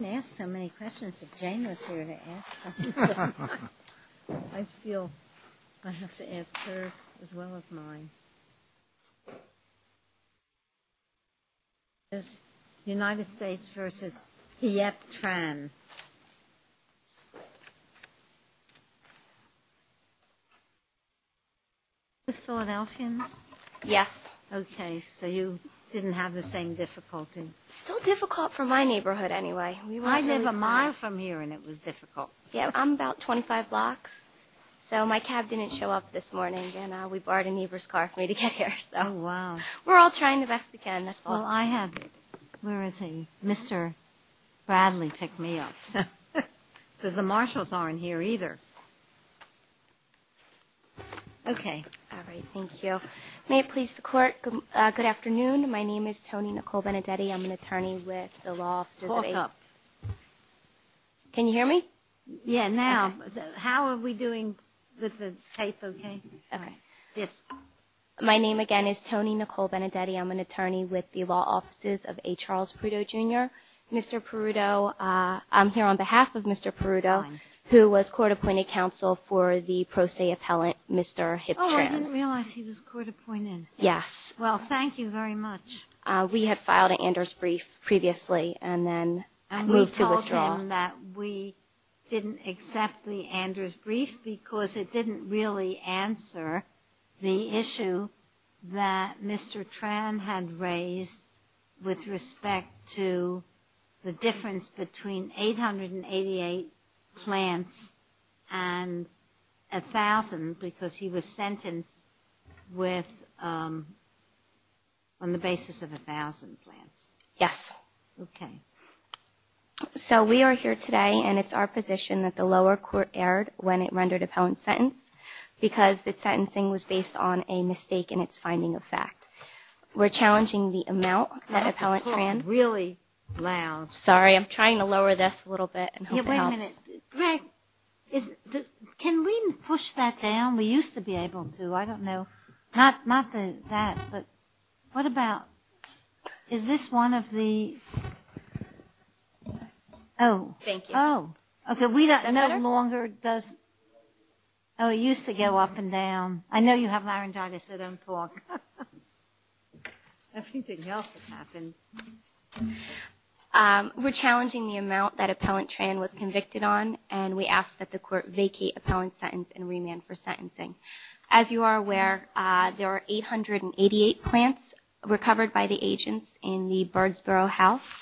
I didn't ask so many questions if Jane was here to ask them. I feel I have to ask hers as well as mine. This is United States versus Hiep Tran. Are you with the Philadelphians? Yes. Still difficult for my neighborhood anyway. I live a mile from here and it was difficult. My cab didn't show up this morning and we borrowed a neighbor's car for me to get here. We're all trying the best we can. Where is he? Mr. Bradley picked me up. Because the marshals aren't here either. May it please the court. Good afternoon. My name is Tony Nicole Benedetti. I'm an attorney with the law office. Can you hear me? How are we doing with the tape? My name again is Tony Nicole Benedetti. I'm an attorney with the law offices of A. Charles Peruto Jr. Mr. Peruto, I'm here on behalf of Mr. Peruto, who was court appointed counsel for the pro se appellant Mr. Hiep Tran. I didn't realize he was court appointed. Thank you very much. We had filed an Anders brief previously and then moved to withdraw. And we told him that we didn't accept the Anders brief because it didn't really answer the issue that Mr. Tran had raised with respect to the difference between 888 plants and 1,000 because he was of 1,000 plants. Yes. Okay. So we are here today and it's our position that the lower court erred when it rendered appellant sentence because the sentencing was based on a mistake in its finding of fact. We're challenging the amount that appellant Tran. Really loud. Sorry, I'm trying to lower this a little bit. Greg, can we push that down? We used to be able to. I don't know. Not that. But what about is this one of the. Oh, thank you. Oh, OK. We don't no longer does. Oh, it used to go up and down. I know you have laryngitis. So don't talk. Everything else has happened. We're challenging the amount that the court vacate appellant sentence and remand for sentencing. As you are aware, there are 888 plants recovered by the agents in the Birdsboro house.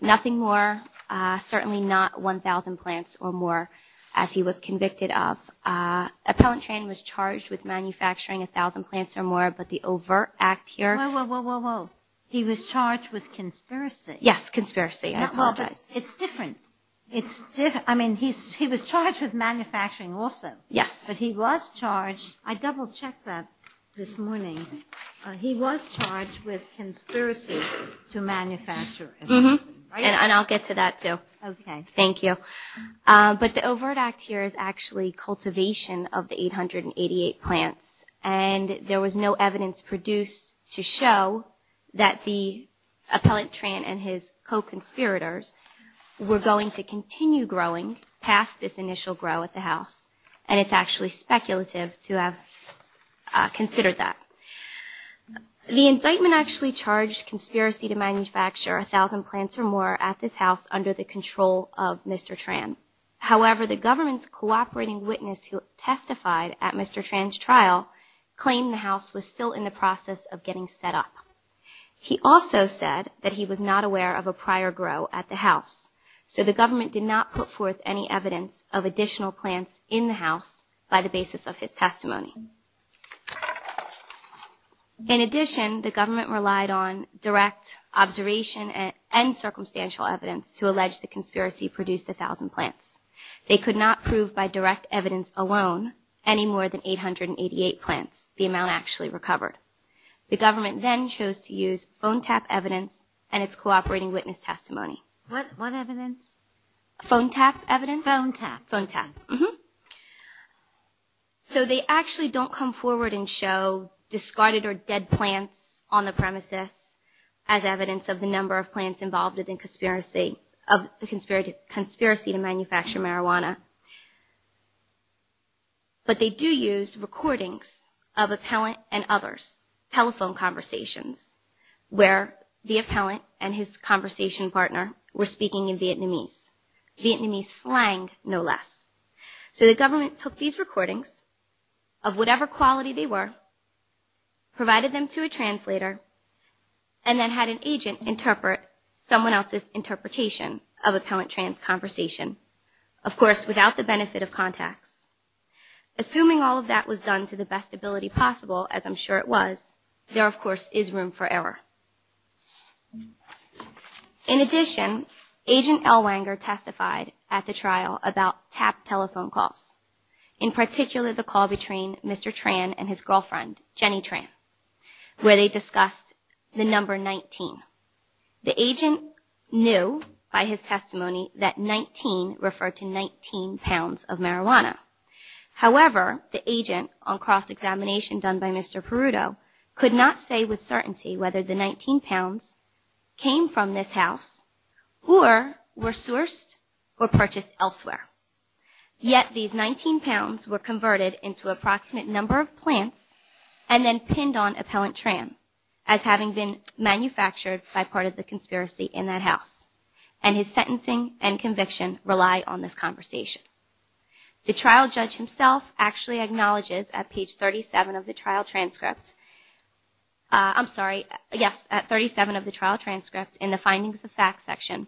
Nothing more. Certainly not 1,000 plants or more as he was convicted of. Appellant Tran was charged with manufacturing 1,000 plants or more. But the overt act here. Well, he was charged with conspiracy. Yes, conspiracy. I apologize. It's different. It's different. I mean, he's he was charged with manufacturing also. Yes, but he was charged. I double checked that this morning. He was charged with conspiracy to manufacture. Mm hmm. And I'll get to that, too. OK, thank you. But the overt act here is actually cultivation of the 888 plants. And there was no evidence produced to show that the appellant Tran and his co-conspirators were going to continue growing past this initial grow at the house. And it's actually speculative to have considered that the indictment actually charged conspiracy to manufacture a thousand plants or more at this house under the control of Mr. Tran. However, the government's cooperating witness who testified at Mr. Tran's trial claimed the house was still in the process of getting set up. He also said that he was not aware of a prior grow at the house. So the government did not put forth any evidence of additional plants in the house by the basis of his testimony. In addition, the government relied on direct observation and circumstantial evidence to allege the conspiracy produced a thousand plants. They could not prove by direct evidence alone any more than 888 plants. The amount actually recovered. The government then chose to use phone tap evidence and its cooperating witness testimony. What evidence? Phone tap evidence. Phone tap. Mm hmm. So they actually don't come forward and show discarded or dead plants on the premises as evidence of the number of plants involved in the conspiracy to manufacture marijuana. But they do use recordings of appellant and others. Telephone conversations where the appellant and his conversation partner were speaking in Vietnamese. Vietnamese slang no less. So the government took these recordings of whatever quality they were, provided them to a translator and then had an agent interpret someone else's interpretation of appellant Tran's conversation. Of course, without the benefit of contacts. Assuming all of that was done to the best ability possible, as I'm sure it was, there of course is room for error. In addition, Agent Elwanger testified at the trial about tap telephone calls, in particular the call between Mr. Tran and his girlfriend, Jenny Tran, where they discussed the number 19. The agent knew by his testimony that 19 referred to 19 pounds of marijuana. However, the agent on cross came from this house or were sourced or purchased elsewhere. Yet these 19 pounds were converted into approximate number of plants and then pinned on appellant Tran as having been manufactured by part of the conspiracy in that house. And his sentencing and conviction rely on this conversation. The trial judge himself actually acknowledges at page 7 of the trial transcript in the findings of fact section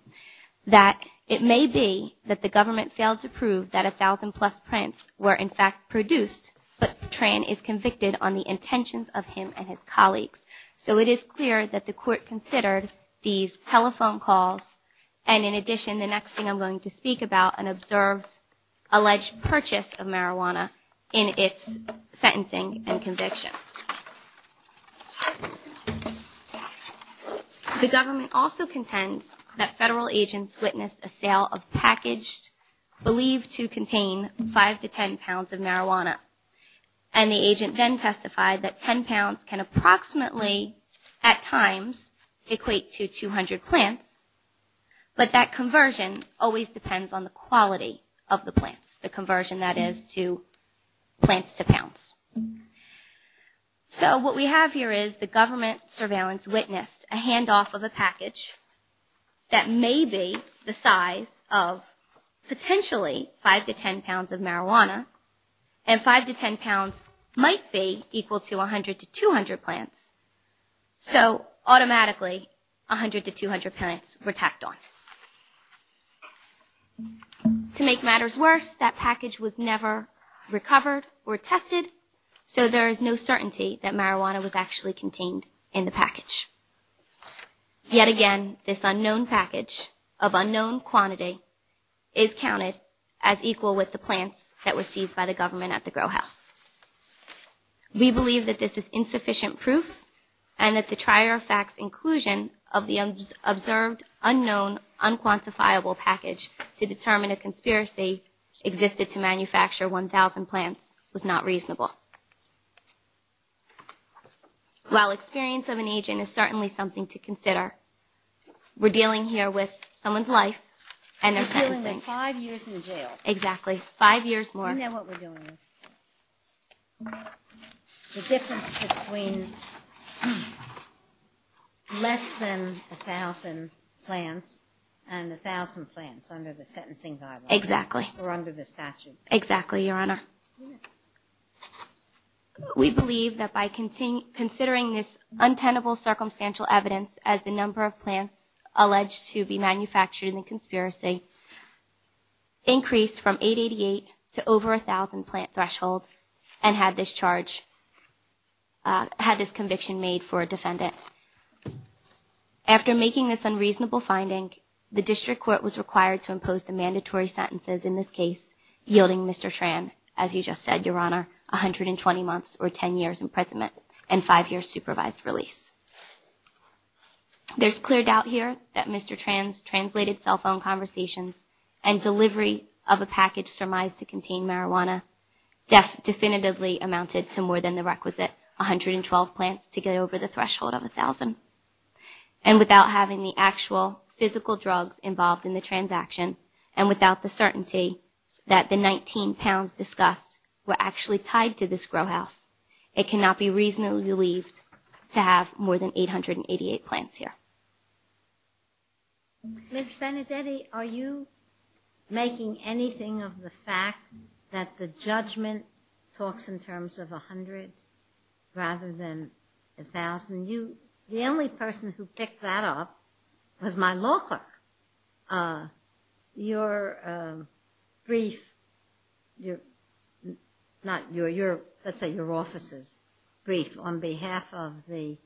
that it may be that the government failed to prove that a thousand plus plants were in fact produced, but Tran is convicted on the intentions of him and his colleagues. So it is clear that the court considered these telephone calls. And in addition, the next thing I'm going to speak about an observed alleged purchase of marijuana in its sentencing and conviction. The government also contends that federal agents witnessed a sale of packaged believed to contain 5 to 10 pounds of marijuana. And the agent then testified that 10 pounds can approximately at times equate to 200 plants. But that conversion always depends on the quality of the plants, the conversion that is to plants to pounds. So what we have here is the government surveillance witnessed a handoff of a package that may be the size of potentially 5 to 10 pounds of marijuana and 5 to 10 pounds might be equal to 100 to 200 plants. So automatically 100 to 200 plants were tacked on. To make matters worse, that package was never recovered or tested. So there is no certainty that marijuana was actually contained in the package. Yet again, this unknown package of unknown quantity is counted as equal with the plants that were seized by the government at the grow house. We believe that this is insufficient proof and that the trier of facts inclusion of the observed unknown unquantifiable package to determine a conspiracy existed to manufacture 1000 plants was not reasonable. While experience of an agent is certainly something to consider. We're dealing here with someone's life and their sentencing. Five years in jail. The difference between less than 1000 plants and 1000 plants under the sentencing. We believe that by considering this untenable circumstantial evidence as the number of increased from 888 to over 1000 plant threshold and had this charge had this conviction made for a defendant after making this unreasonable finding. The district court was required to impose the mandatory sentences in this case, yielding Mr. Tran. As you just said, Your Honor, 120 months or 10 years in prison and five years supervised release. There's clear doubt here that Mr. Tran's translated cell phone conversations and delivery of a package surmised to contain marijuana. Deaf definitively amounted to more than the requisite 112 plants to get over the threshold of 1000 and without having the actual physical drugs involved in the transaction and without the certainty that the 19 pounds discussed were actually tied to this grow house. It cannot be reasonably believed to have more than 888 plants here. Ms. Benedetti, are you making anything of the fact that the judgment talks in terms of 100 rather than 1000? The only person who picked that up was my law clerk. Your brief, not your, let's say your office's brief on behalf of the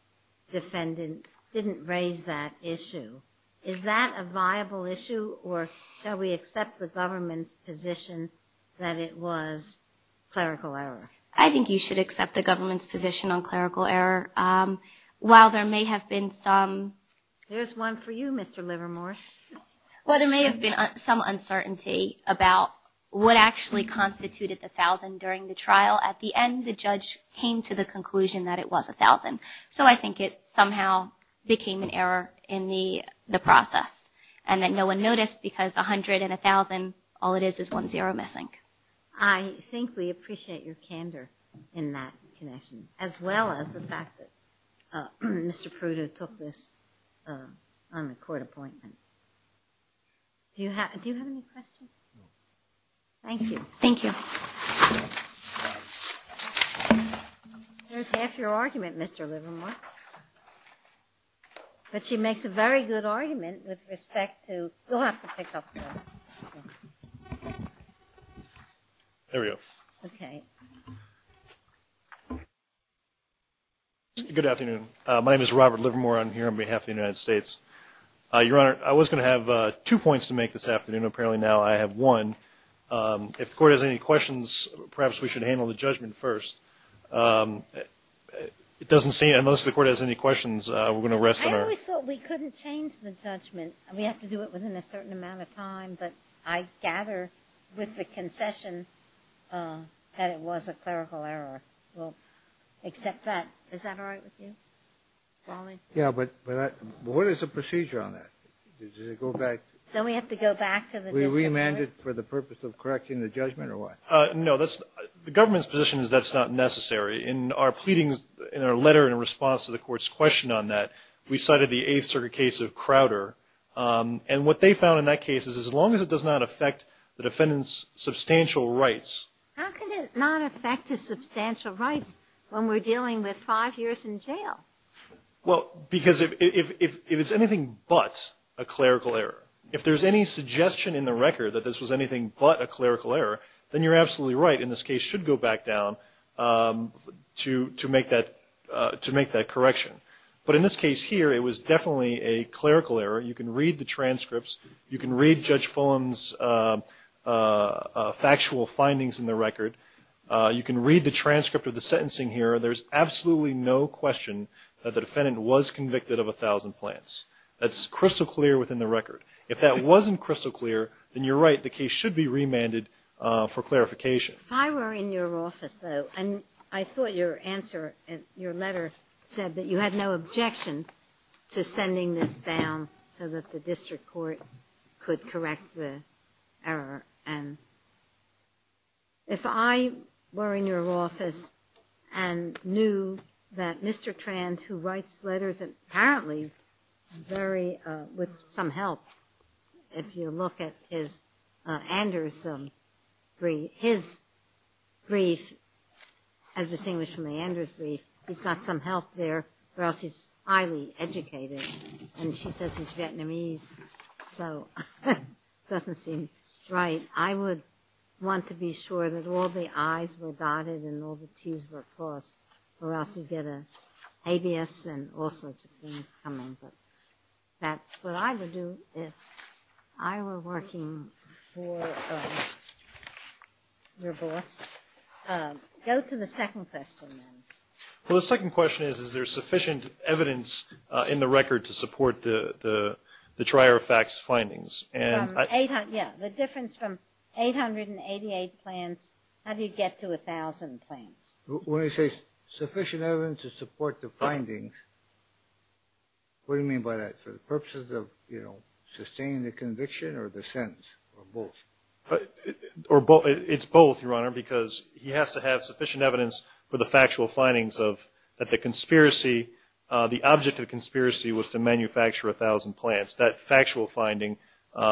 defendant didn't raise that issue. Is that a viable issue or shall we accept the government's position that it was clerical error? I think you should accept the government's position on clerical error. While there may have been some uncertainty about what actually constituted the 1000 during the trial, at the end the judge came to the conclusion that it was 1000. So I think it somehow became an error in the process and that no one noticed because 100 and 1000, all it is is one zero missing. I think we appreciate your candor in that connection as well as the fact that Mr. Prudo took this on the court appointment. Do you have any questions? Thank you. There's half your argument, Mr. Livermore. But she makes a very good argument with respect to, you'll have to pick up the... There we go. Good afternoon. My name is Robert Livermore. I'm here on behalf of the United States. Your Honor, I was going to have two points to make this afternoon. Apparently now I have one. If the court has any questions, perhaps we should handle the judgment first. It doesn't seem, unless the court has any questions, we're going to rest on our... I always thought we couldn't change the judgment. We have to do it within a certain amount of time, but I gather with the concession that it was a clerical error. We'll accept that. Is that all right with you? Yeah, but what is the procedure on that? Do we have to go back to the discipline? No, the government's position is that's not necessary. In our letter in response to the court's question on that, we cited the Eighth Circuit case of Crowder. And what they found in that case is as long as it does not affect the defendant's substantial rights... How can it not affect his substantial rights when we're dealing with five years in jail? Well, because if it's anything but a clerical error, if there's any suggestion in the record that this was anything but a clerical error, then you're absolutely right. In this case, it should go back down to make that correction. But in this case here, it was definitely a clerical error. You can read the transcripts. You can read Judge Fulham's factual findings in the record. You can read the transcript of the sentencing here. And there's absolutely no question that the defendant was convicted of a thousand plants. That's crystal clear within the record. If that wasn't crystal clear, then you're right. The case should be remanded for clarification. If I were in your office, though, and I thought your answer in your letter said that you had no objection to sending this down so that the district court could correct the error, and if I were in your office and knew that Mr. Trans, who writes letters, and apparently with some help, if you look at his Anders brief, his brief as distinguished from the Anders brief, he's got some help there, or else he's highly educated. And she says he's Vietnamese, so it doesn't seem right. I would want to be sure that all the I's were dotted and all the T's were crossed, or else you'd get an ABS and all sorts of things coming. But that's what I would do if I were working for your boss. Go to the second question, then. Well, the second question is, is there sufficient evidence in the record to support the Trier Facts findings? Yeah, the difference from 888 plants, how do you get to a thousand plants? When you say sufficient evidence to support the findings, what do you mean by that? For the purposes of sustaining the conviction or the sentence, or both? It's both, Your Honor, because he has to have sufficient evidence for the factual findings that the object of the conspiracy was to manufacture a thousand plants. That factual finding,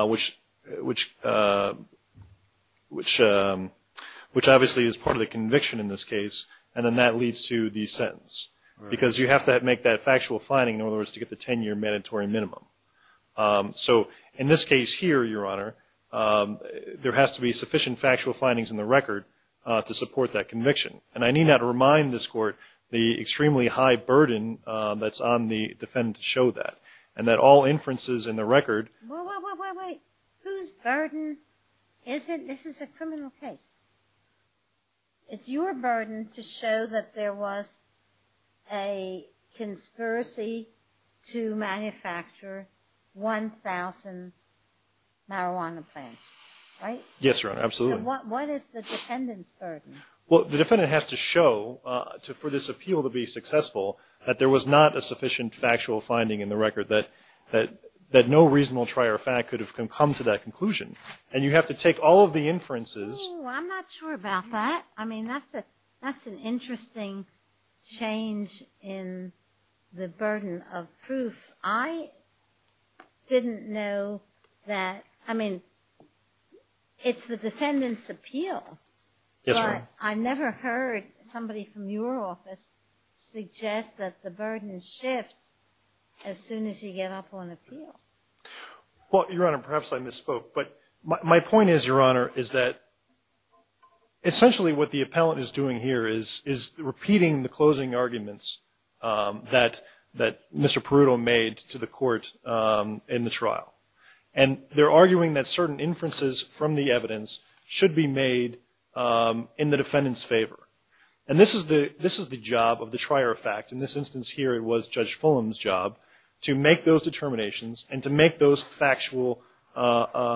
which obviously is part of the conviction in this case, and then that leads to the sentence, because you have to make that factual finding, in other words, to get the 10-year mandatory minimum. So in this case here, Your Honor, there has to be sufficient factual findings in the record to support that conviction. And I need not remind this Court the extremely high burden that's on the defendant to show that, and that all inferences in the record... Wait, wait, wait, wait. Whose burden is it? This is a criminal case. It's your burden to show that there was a conspiracy to manufacture 1,000 marijuana plants, right? Yes, Your Honor, absolutely. What is the defendant's burden? Well, the defendant has to show, for this appeal to be successful, that there was not a sufficient factual finding in the record, that no reasonable trier of fact could have come to that conclusion. And you have to take all of the inferences... Oh, I'm not sure about that. I mean, that's an interesting change in the burden of proof. I didn't know that. I mean, it's the defendant's appeal. Yes, Your Honor. But I never heard somebody from your office suggest that the burden shifts as soon as you get up on appeal. Well, Your Honor, perhaps I misspoke. But my point is, Your Honor, is that essentially what the appellant is doing here is repeating the closing arguments that Mr. Peruto made to the Court in the trial. And they're arguing that certain inferences from the evidence should be made in the defendant's favor. And this is the job of the trier of fact. In this instance here, it was Judge Fulham's job to make those determinations and to make those factual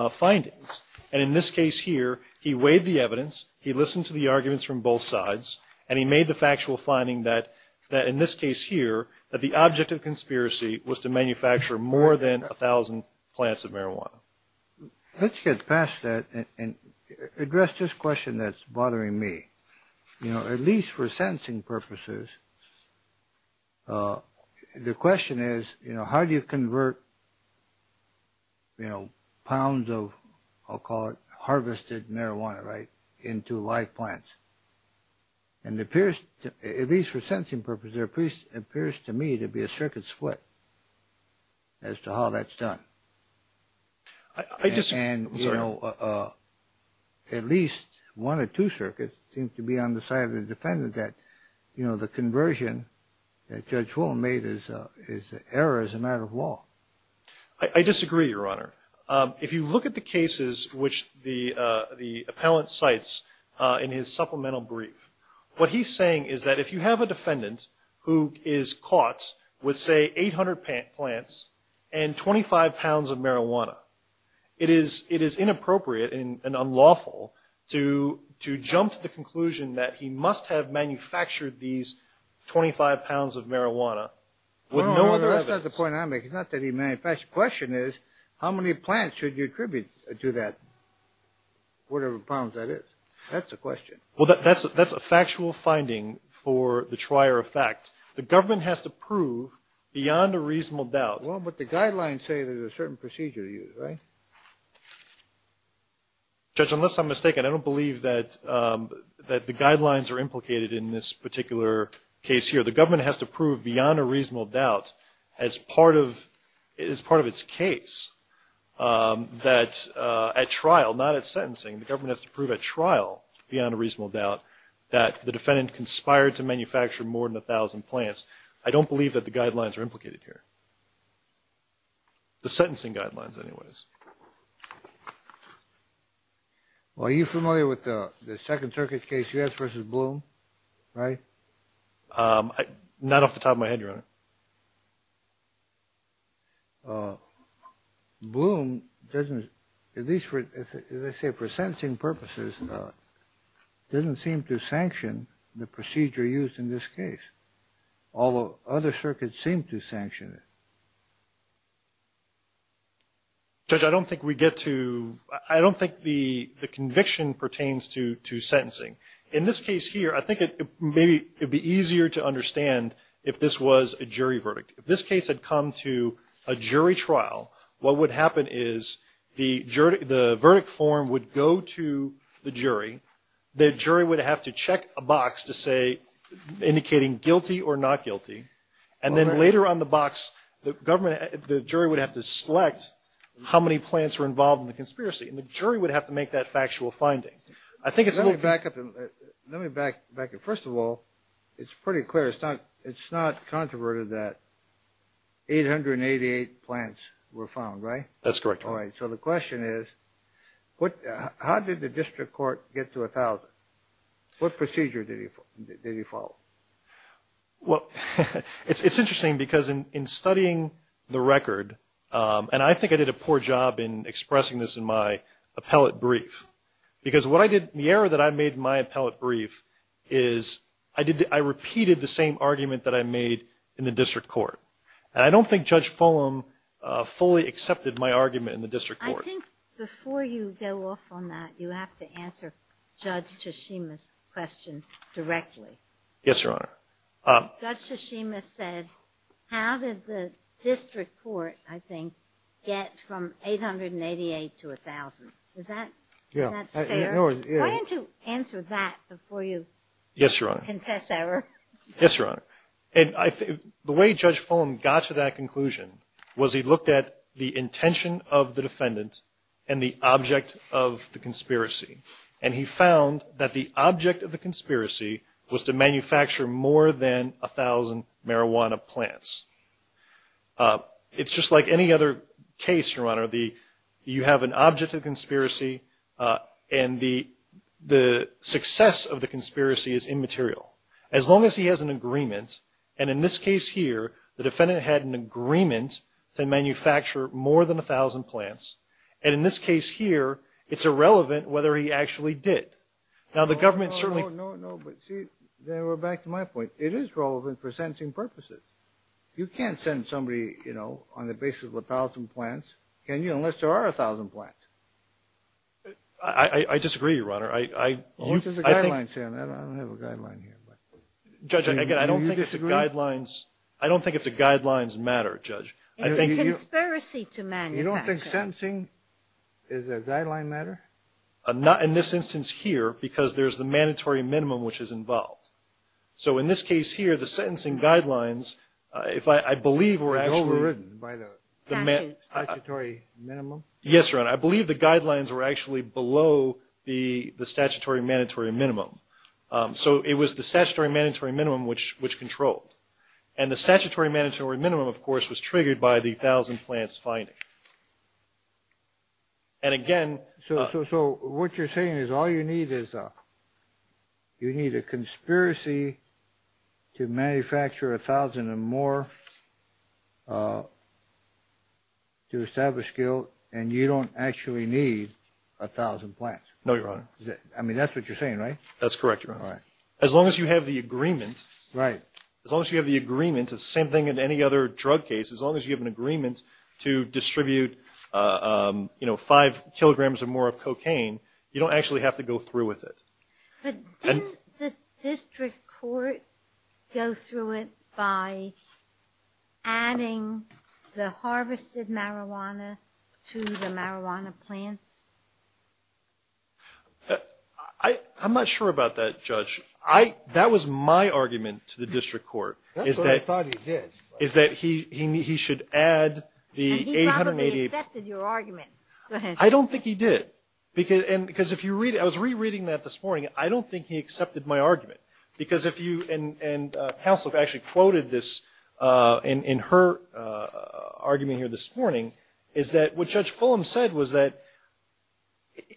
findings. And in this case here, he weighed the evidence, he listened to the arguments from both sides, and he made the factual finding that, in this case here, that the object of conspiracy was to manufacture more than 1,000 plants of marijuana. Let's get past that and address this question that's bothering me. You know, at least for sentencing purposes, the question is, you know, how do you convert, you know, pounds of, I'll call it harvested marijuana, right, into live plants? And it appears, at least for sentencing purposes, it appears to me to be a circuit split as to how that's done. And, you know, at least one or two circuits seem to be on the side of the defendant that, you know, the conversion that Judge Fulham made is an error as a matter of law. I disagree, Your Honor. If you look at the cases which the appellant cites in his supplemental brief, what he's saying is that if you have a defendant who is caught with, say, 800 plants and 25 pounds of marijuana, it is inappropriate and unlawful to jump to the conclusion that he must have manufactured these 25 pounds of marijuana with no other evidence. Well, that's not the point I'm making. It's not that he manufactured. The question is, how many plants should you attribute to that, whatever pounds that is? That's the question. Well, that's a factual finding for the trier of fact. The government has to prove beyond a reasonable doubt. Well, but the guidelines say there's a certain procedure to use, right? Judge, unless I'm mistaken, I don't believe that the guidelines are implicated in this particular case here. The government has to prove beyond a reasonable doubt as part of its case that at trial, not at sentencing, the government has to prove at trial beyond a reasonable doubt that the defendant conspired to manufacture more than 1,000 plants. I don't believe that the guidelines are implicated here. The sentencing guidelines, anyways. Well, are you familiar with the Second Circuit case, U.S. v. Bloom, right? Not off the top of my head, Your Honor. Bloom doesn't, at least for, as I say, for sentencing purposes, doesn't seem to sanction the procedure used in this case, although other circuits seem to sanction it. Judge, I don't think we get to, I don't think the conviction pertains to sentencing. In this case here, I think maybe it would be easier to understand if this was a jury verdict. If this case had come to a jury trial, what would happen is the verdict form would go to the jury, the jury would have to check a box indicating guilty or not guilty, and then later on the box, the jury would have to select how many plants were involved in the conspiracy, and the jury would have to make that factual finding. Let me back up. First of all, it's pretty clear, it's not controverted that 888 plants were found, right? That's correct, Your Honor. All right, so the question is, how did the district court get to 1,000? What procedure did he follow? Well, it's interesting because in studying the record, and I think I did a poor job in expressing this in my appellate brief, because what I did, the error that I made in my appellate brief is I repeated the same argument that I made in the district court. I think before you go off on that, you have to answer Judge Tshishima's question directly. Yes, Your Honor. Judge Tshishima said, how did the district court, I think, get from 888 to 1,000? Is that fair? Why don't you answer that before you confess error? Yes, Your Honor. And the way Judge Fulham got to that conclusion was he looked at the intention of the defendant and the object of the conspiracy. And he found that the object of the conspiracy was to manufacture more than 1,000 marijuana plants. It's just like any other case, Your Honor. You have an object of conspiracy, and the success of the conspiracy is immaterial. Unless he has an agreement, and in this case here, the defendant had an agreement to manufacture more than 1,000 plants. And in this case here, it's irrelevant whether he actually did. No, no, no, but see, they were back to my point. It is relevant for sensing purposes. You can't send somebody, you know, on the basis of 1,000 plants, can you, unless there are 1,000 plants? I disagree, Your Honor. I don't think it's a guidelines matter, Judge. It's a conspiracy to manufacture. You don't think sentencing is a guideline matter? In this instance here, because there's the mandatory minimum which is involved. So in this case here, the sentencing guidelines, if I believe were actually... Overridden by the statutory minimum? Yes, Your Honor, I believe the guidelines were actually below the statutory mandatory minimum. So it was the statutory mandatory minimum which controlled. And the statutory mandatory minimum, of course, was triggered by the 1,000 plants finding. And again... So what you're saying is all you need is... You need a conspiracy to manufacture 1,000 or more to establish guilt, and you don't actually need 1,000 plants? No, Your Honor. I mean, that's what you're saying, right? As long as you have the agreement, the same thing in any other drug case, as long as you have an agreement to distribute, you know, 5 kilograms or more of cocaine, you don't actually have to go through with it. But didn't the district court go through it by adding the harvested marijuana to the marijuana plants? I'm not sure about that, Judge. That was my argument to the district court, is that he should add the 880... He probably accepted your argument. I don't think he did. I was rereading that this morning. I don't think he accepted my argument, because if you... And counsel actually quoted this in her argument here this morning, is that what Judge Fulham said was that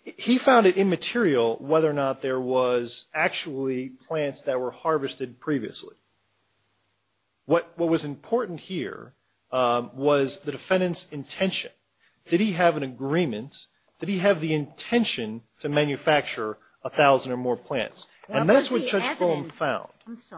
he found it immaterial whether or not there was actually plants that were harvested previously. What was important here was the defendant's intention. Did he have an agreement? Did he have the intention to manufacture 1,000 or more plants? And that's what Judge Fulham found. And that's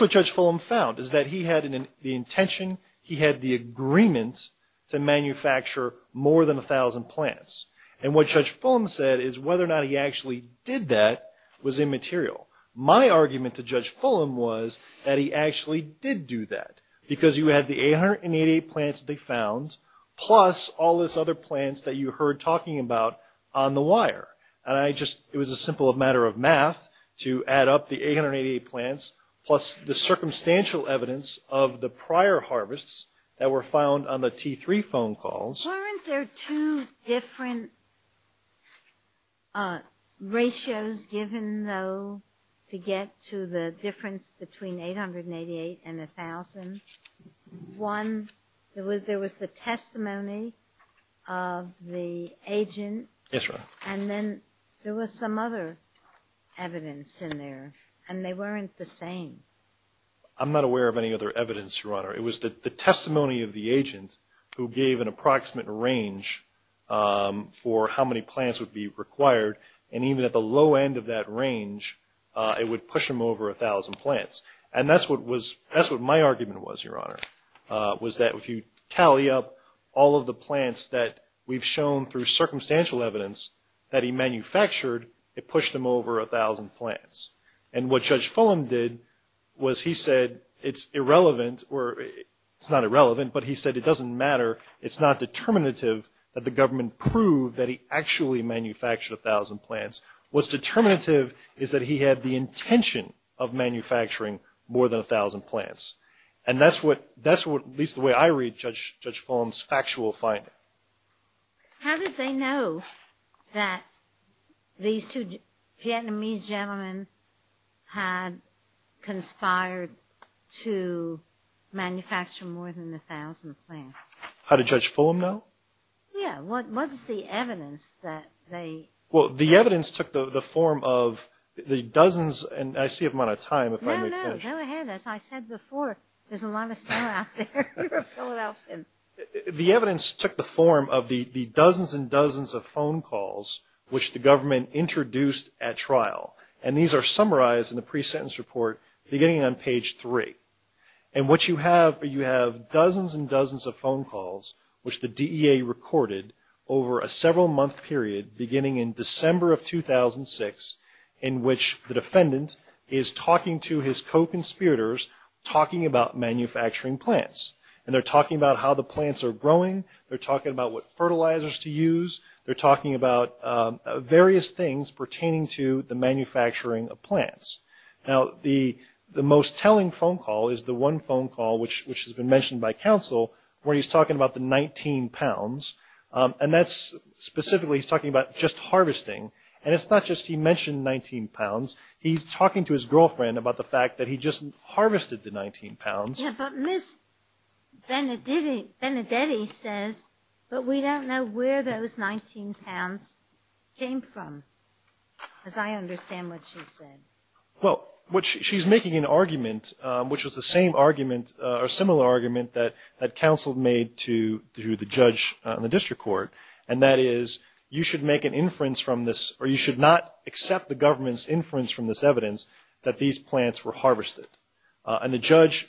what Judge Fulham found, is that he had the intention, he had the agreement to manufacture more than 1,000 plants. And what Judge Fulham said is whether or not he actually did that was immaterial. My argument to Judge Fulham was that he actually did do that, because you had the 888 plants they found, plus all these other plants that you heard talking about on the wire. And it was a simple matter of math to add up the 888 plants, plus the circumstantial evidence of the prior harvests that were found on the T3 phone calls. Weren't there two different ratios given, though, to get to the difference between 888 and 1,000? One, there was the testimony of the agent. Yes, Your Honor. And then there was some other evidence in there, and they weren't the same. I'm not aware of any other evidence, Your Honor. It was the testimony of the agent who gave an approximate range for how many plants would be required, and even at the low end of that range, it would push them over 1,000 plants. And that's what my argument was, Your Honor, was that if you tally up all of the plants that we've shown through circumstantial evidence that he manufactured, it pushed them over 1,000 plants. And what Judge Fulham did was he said it's irrelevant, or it's not irrelevant, but he said it doesn't matter. It's not determinative that the government proved that he actually manufactured 1,000 plants. What's determinative is that he had the intention of manufacturing more than 1,000 plants. And that's what, at least the way I read Judge Fulham's factual finding. How did they know that these two Vietnamese gentlemen had conspired to manufacture more than 1,000 plants? How did Judge Fulham know? Well, the evidence took the form of the dozens, and I see a amount of time if I may interject. No, no, go ahead. As I said before, there's a lot of stuff out there. The evidence took the form of the dozens and dozens of phone calls which the government introduced at trial. And these are summarized in the pre-sentence report beginning on page three. And what you have, you have dozens and dozens of phone calls which the DEA recorded over a several-month period beginning in December of 2006 in which the defendant is talking to his co-conspirators talking about manufacturing plants. And they're talking about how the plants are growing. They're talking about what fertilizers to use. They're talking about various things pertaining to the manufacturing of plants. Now, the most telling phone call is the one phone call which has been mentioned by counsel where he's talking about the 19 pounds. And that's specifically he's talking about just harvesting. And it's not just he mentioned 19 pounds. He's talking to his girlfriend about the fact that he just harvested the 19 pounds. Yeah, but Ms. Benedetti says, but we don't know where those 19 pounds came from. As I understand what she said. Well, what she's making an argument, which was the same argument or similar argument that counsel made to the judge in the district court, and that is you should make an inference from this or you should not accept the government's inference from this evidence that these plants were harvested. And the judge,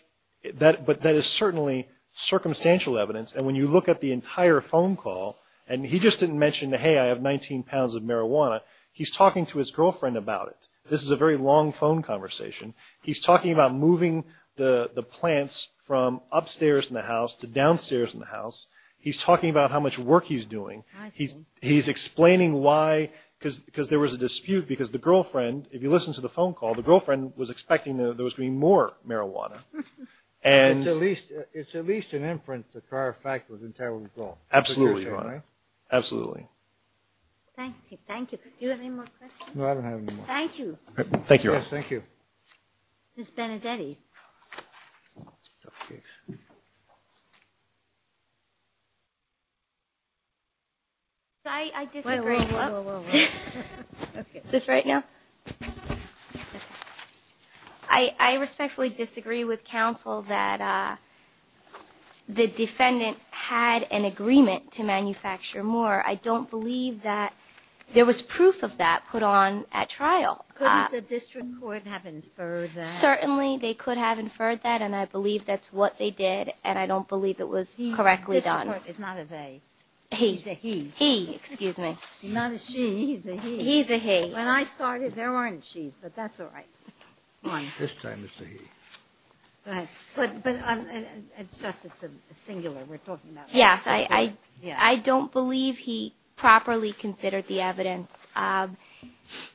but that is certainly circumstantial evidence. And when you look at the entire phone call, and he just didn't mention, hey, I have 19 pounds of marijuana. He's talking to his girlfriend about it. This is a very long phone conversation. He's talking about moving the plants from upstairs in the house to downstairs in the house. He's talking about how much work he's doing. He's explaining why, because there was a dispute, because the girlfriend, if you listen to the phone call, the girlfriend was expecting that there was going to be more marijuana. And at least it's at least an inference that prior fact was entirely wrong. Absolutely. Absolutely. Thank you. Thank you. Thank you. Thank you. I disagree. This right now? I respectfully disagree with counsel that the defendant had an agreement to manufacture more. I don't believe that there was proof of that put on at trial. Couldn't the district court have inferred that? Certainly they could have inferred that, and I believe that's what they did, and I don't believe it was correctly done. He's a he. He's a he. When I started, there weren't she's, but that's all right. This time it's a he. Yes, I don't believe he properly considered the evidence.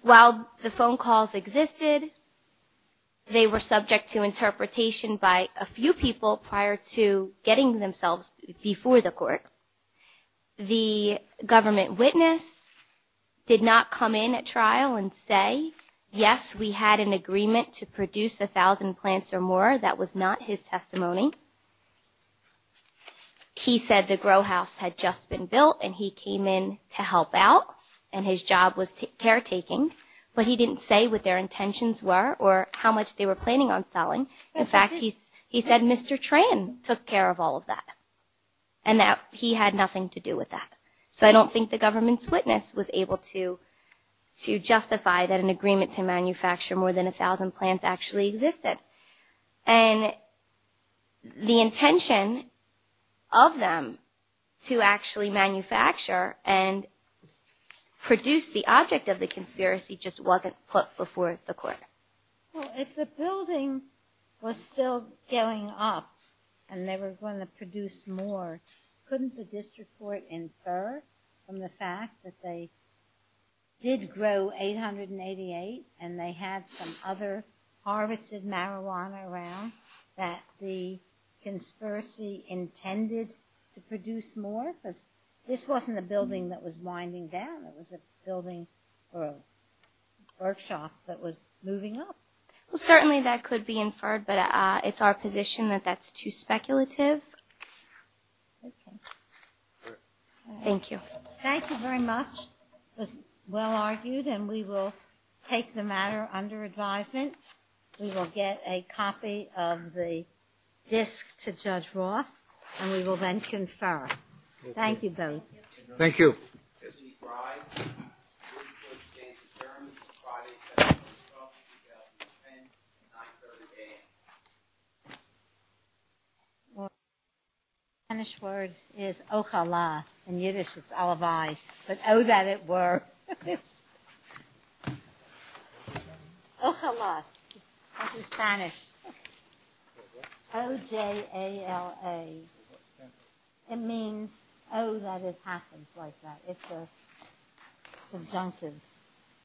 While the phone calls existed, they were subject to interpretation by a few people prior to getting themselves before the court. The government witness did not come in at trial and say, yes, we had an agreement. To produce a thousand plants or more, that was not his testimony. He said the grow house had just been built and he came in to help out and his job was caretaking. But he didn't say what their intentions were or how much they were planning on selling. In fact, he's he said Mr. Tran took care of all of that. And that he had nothing to do with that. So I don't think the government's witness was able to justify that an agreement to manufacture more than a thousand plants actually existed. And the intention of them to actually manufacture and produce the object of the conspiracy just wasn't put before the court. Well, if the building was still going up and they were going to produce more, couldn't the district court infer that? From the fact that they did grow 888 and they had some other harvested marijuana around that the conspiracy intended to produce more? Because this wasn't a building that was winding down, it was a building or a workshop that was moving up. Well, certainly that could be inferred, but it's our position that that's too speculative. Thank you. Thank you very much. It was well argued and we will take the matter under advisement. We will get a copy of the disk to Judge Roth and we will then confer. Thank you both. The Spanish word is ojala. In Yiddish it's olivay, but oh that it were. Ojala. That's in Spanish. O-J-A-L-A. It means oh that it happens like that. It's a subjunctive.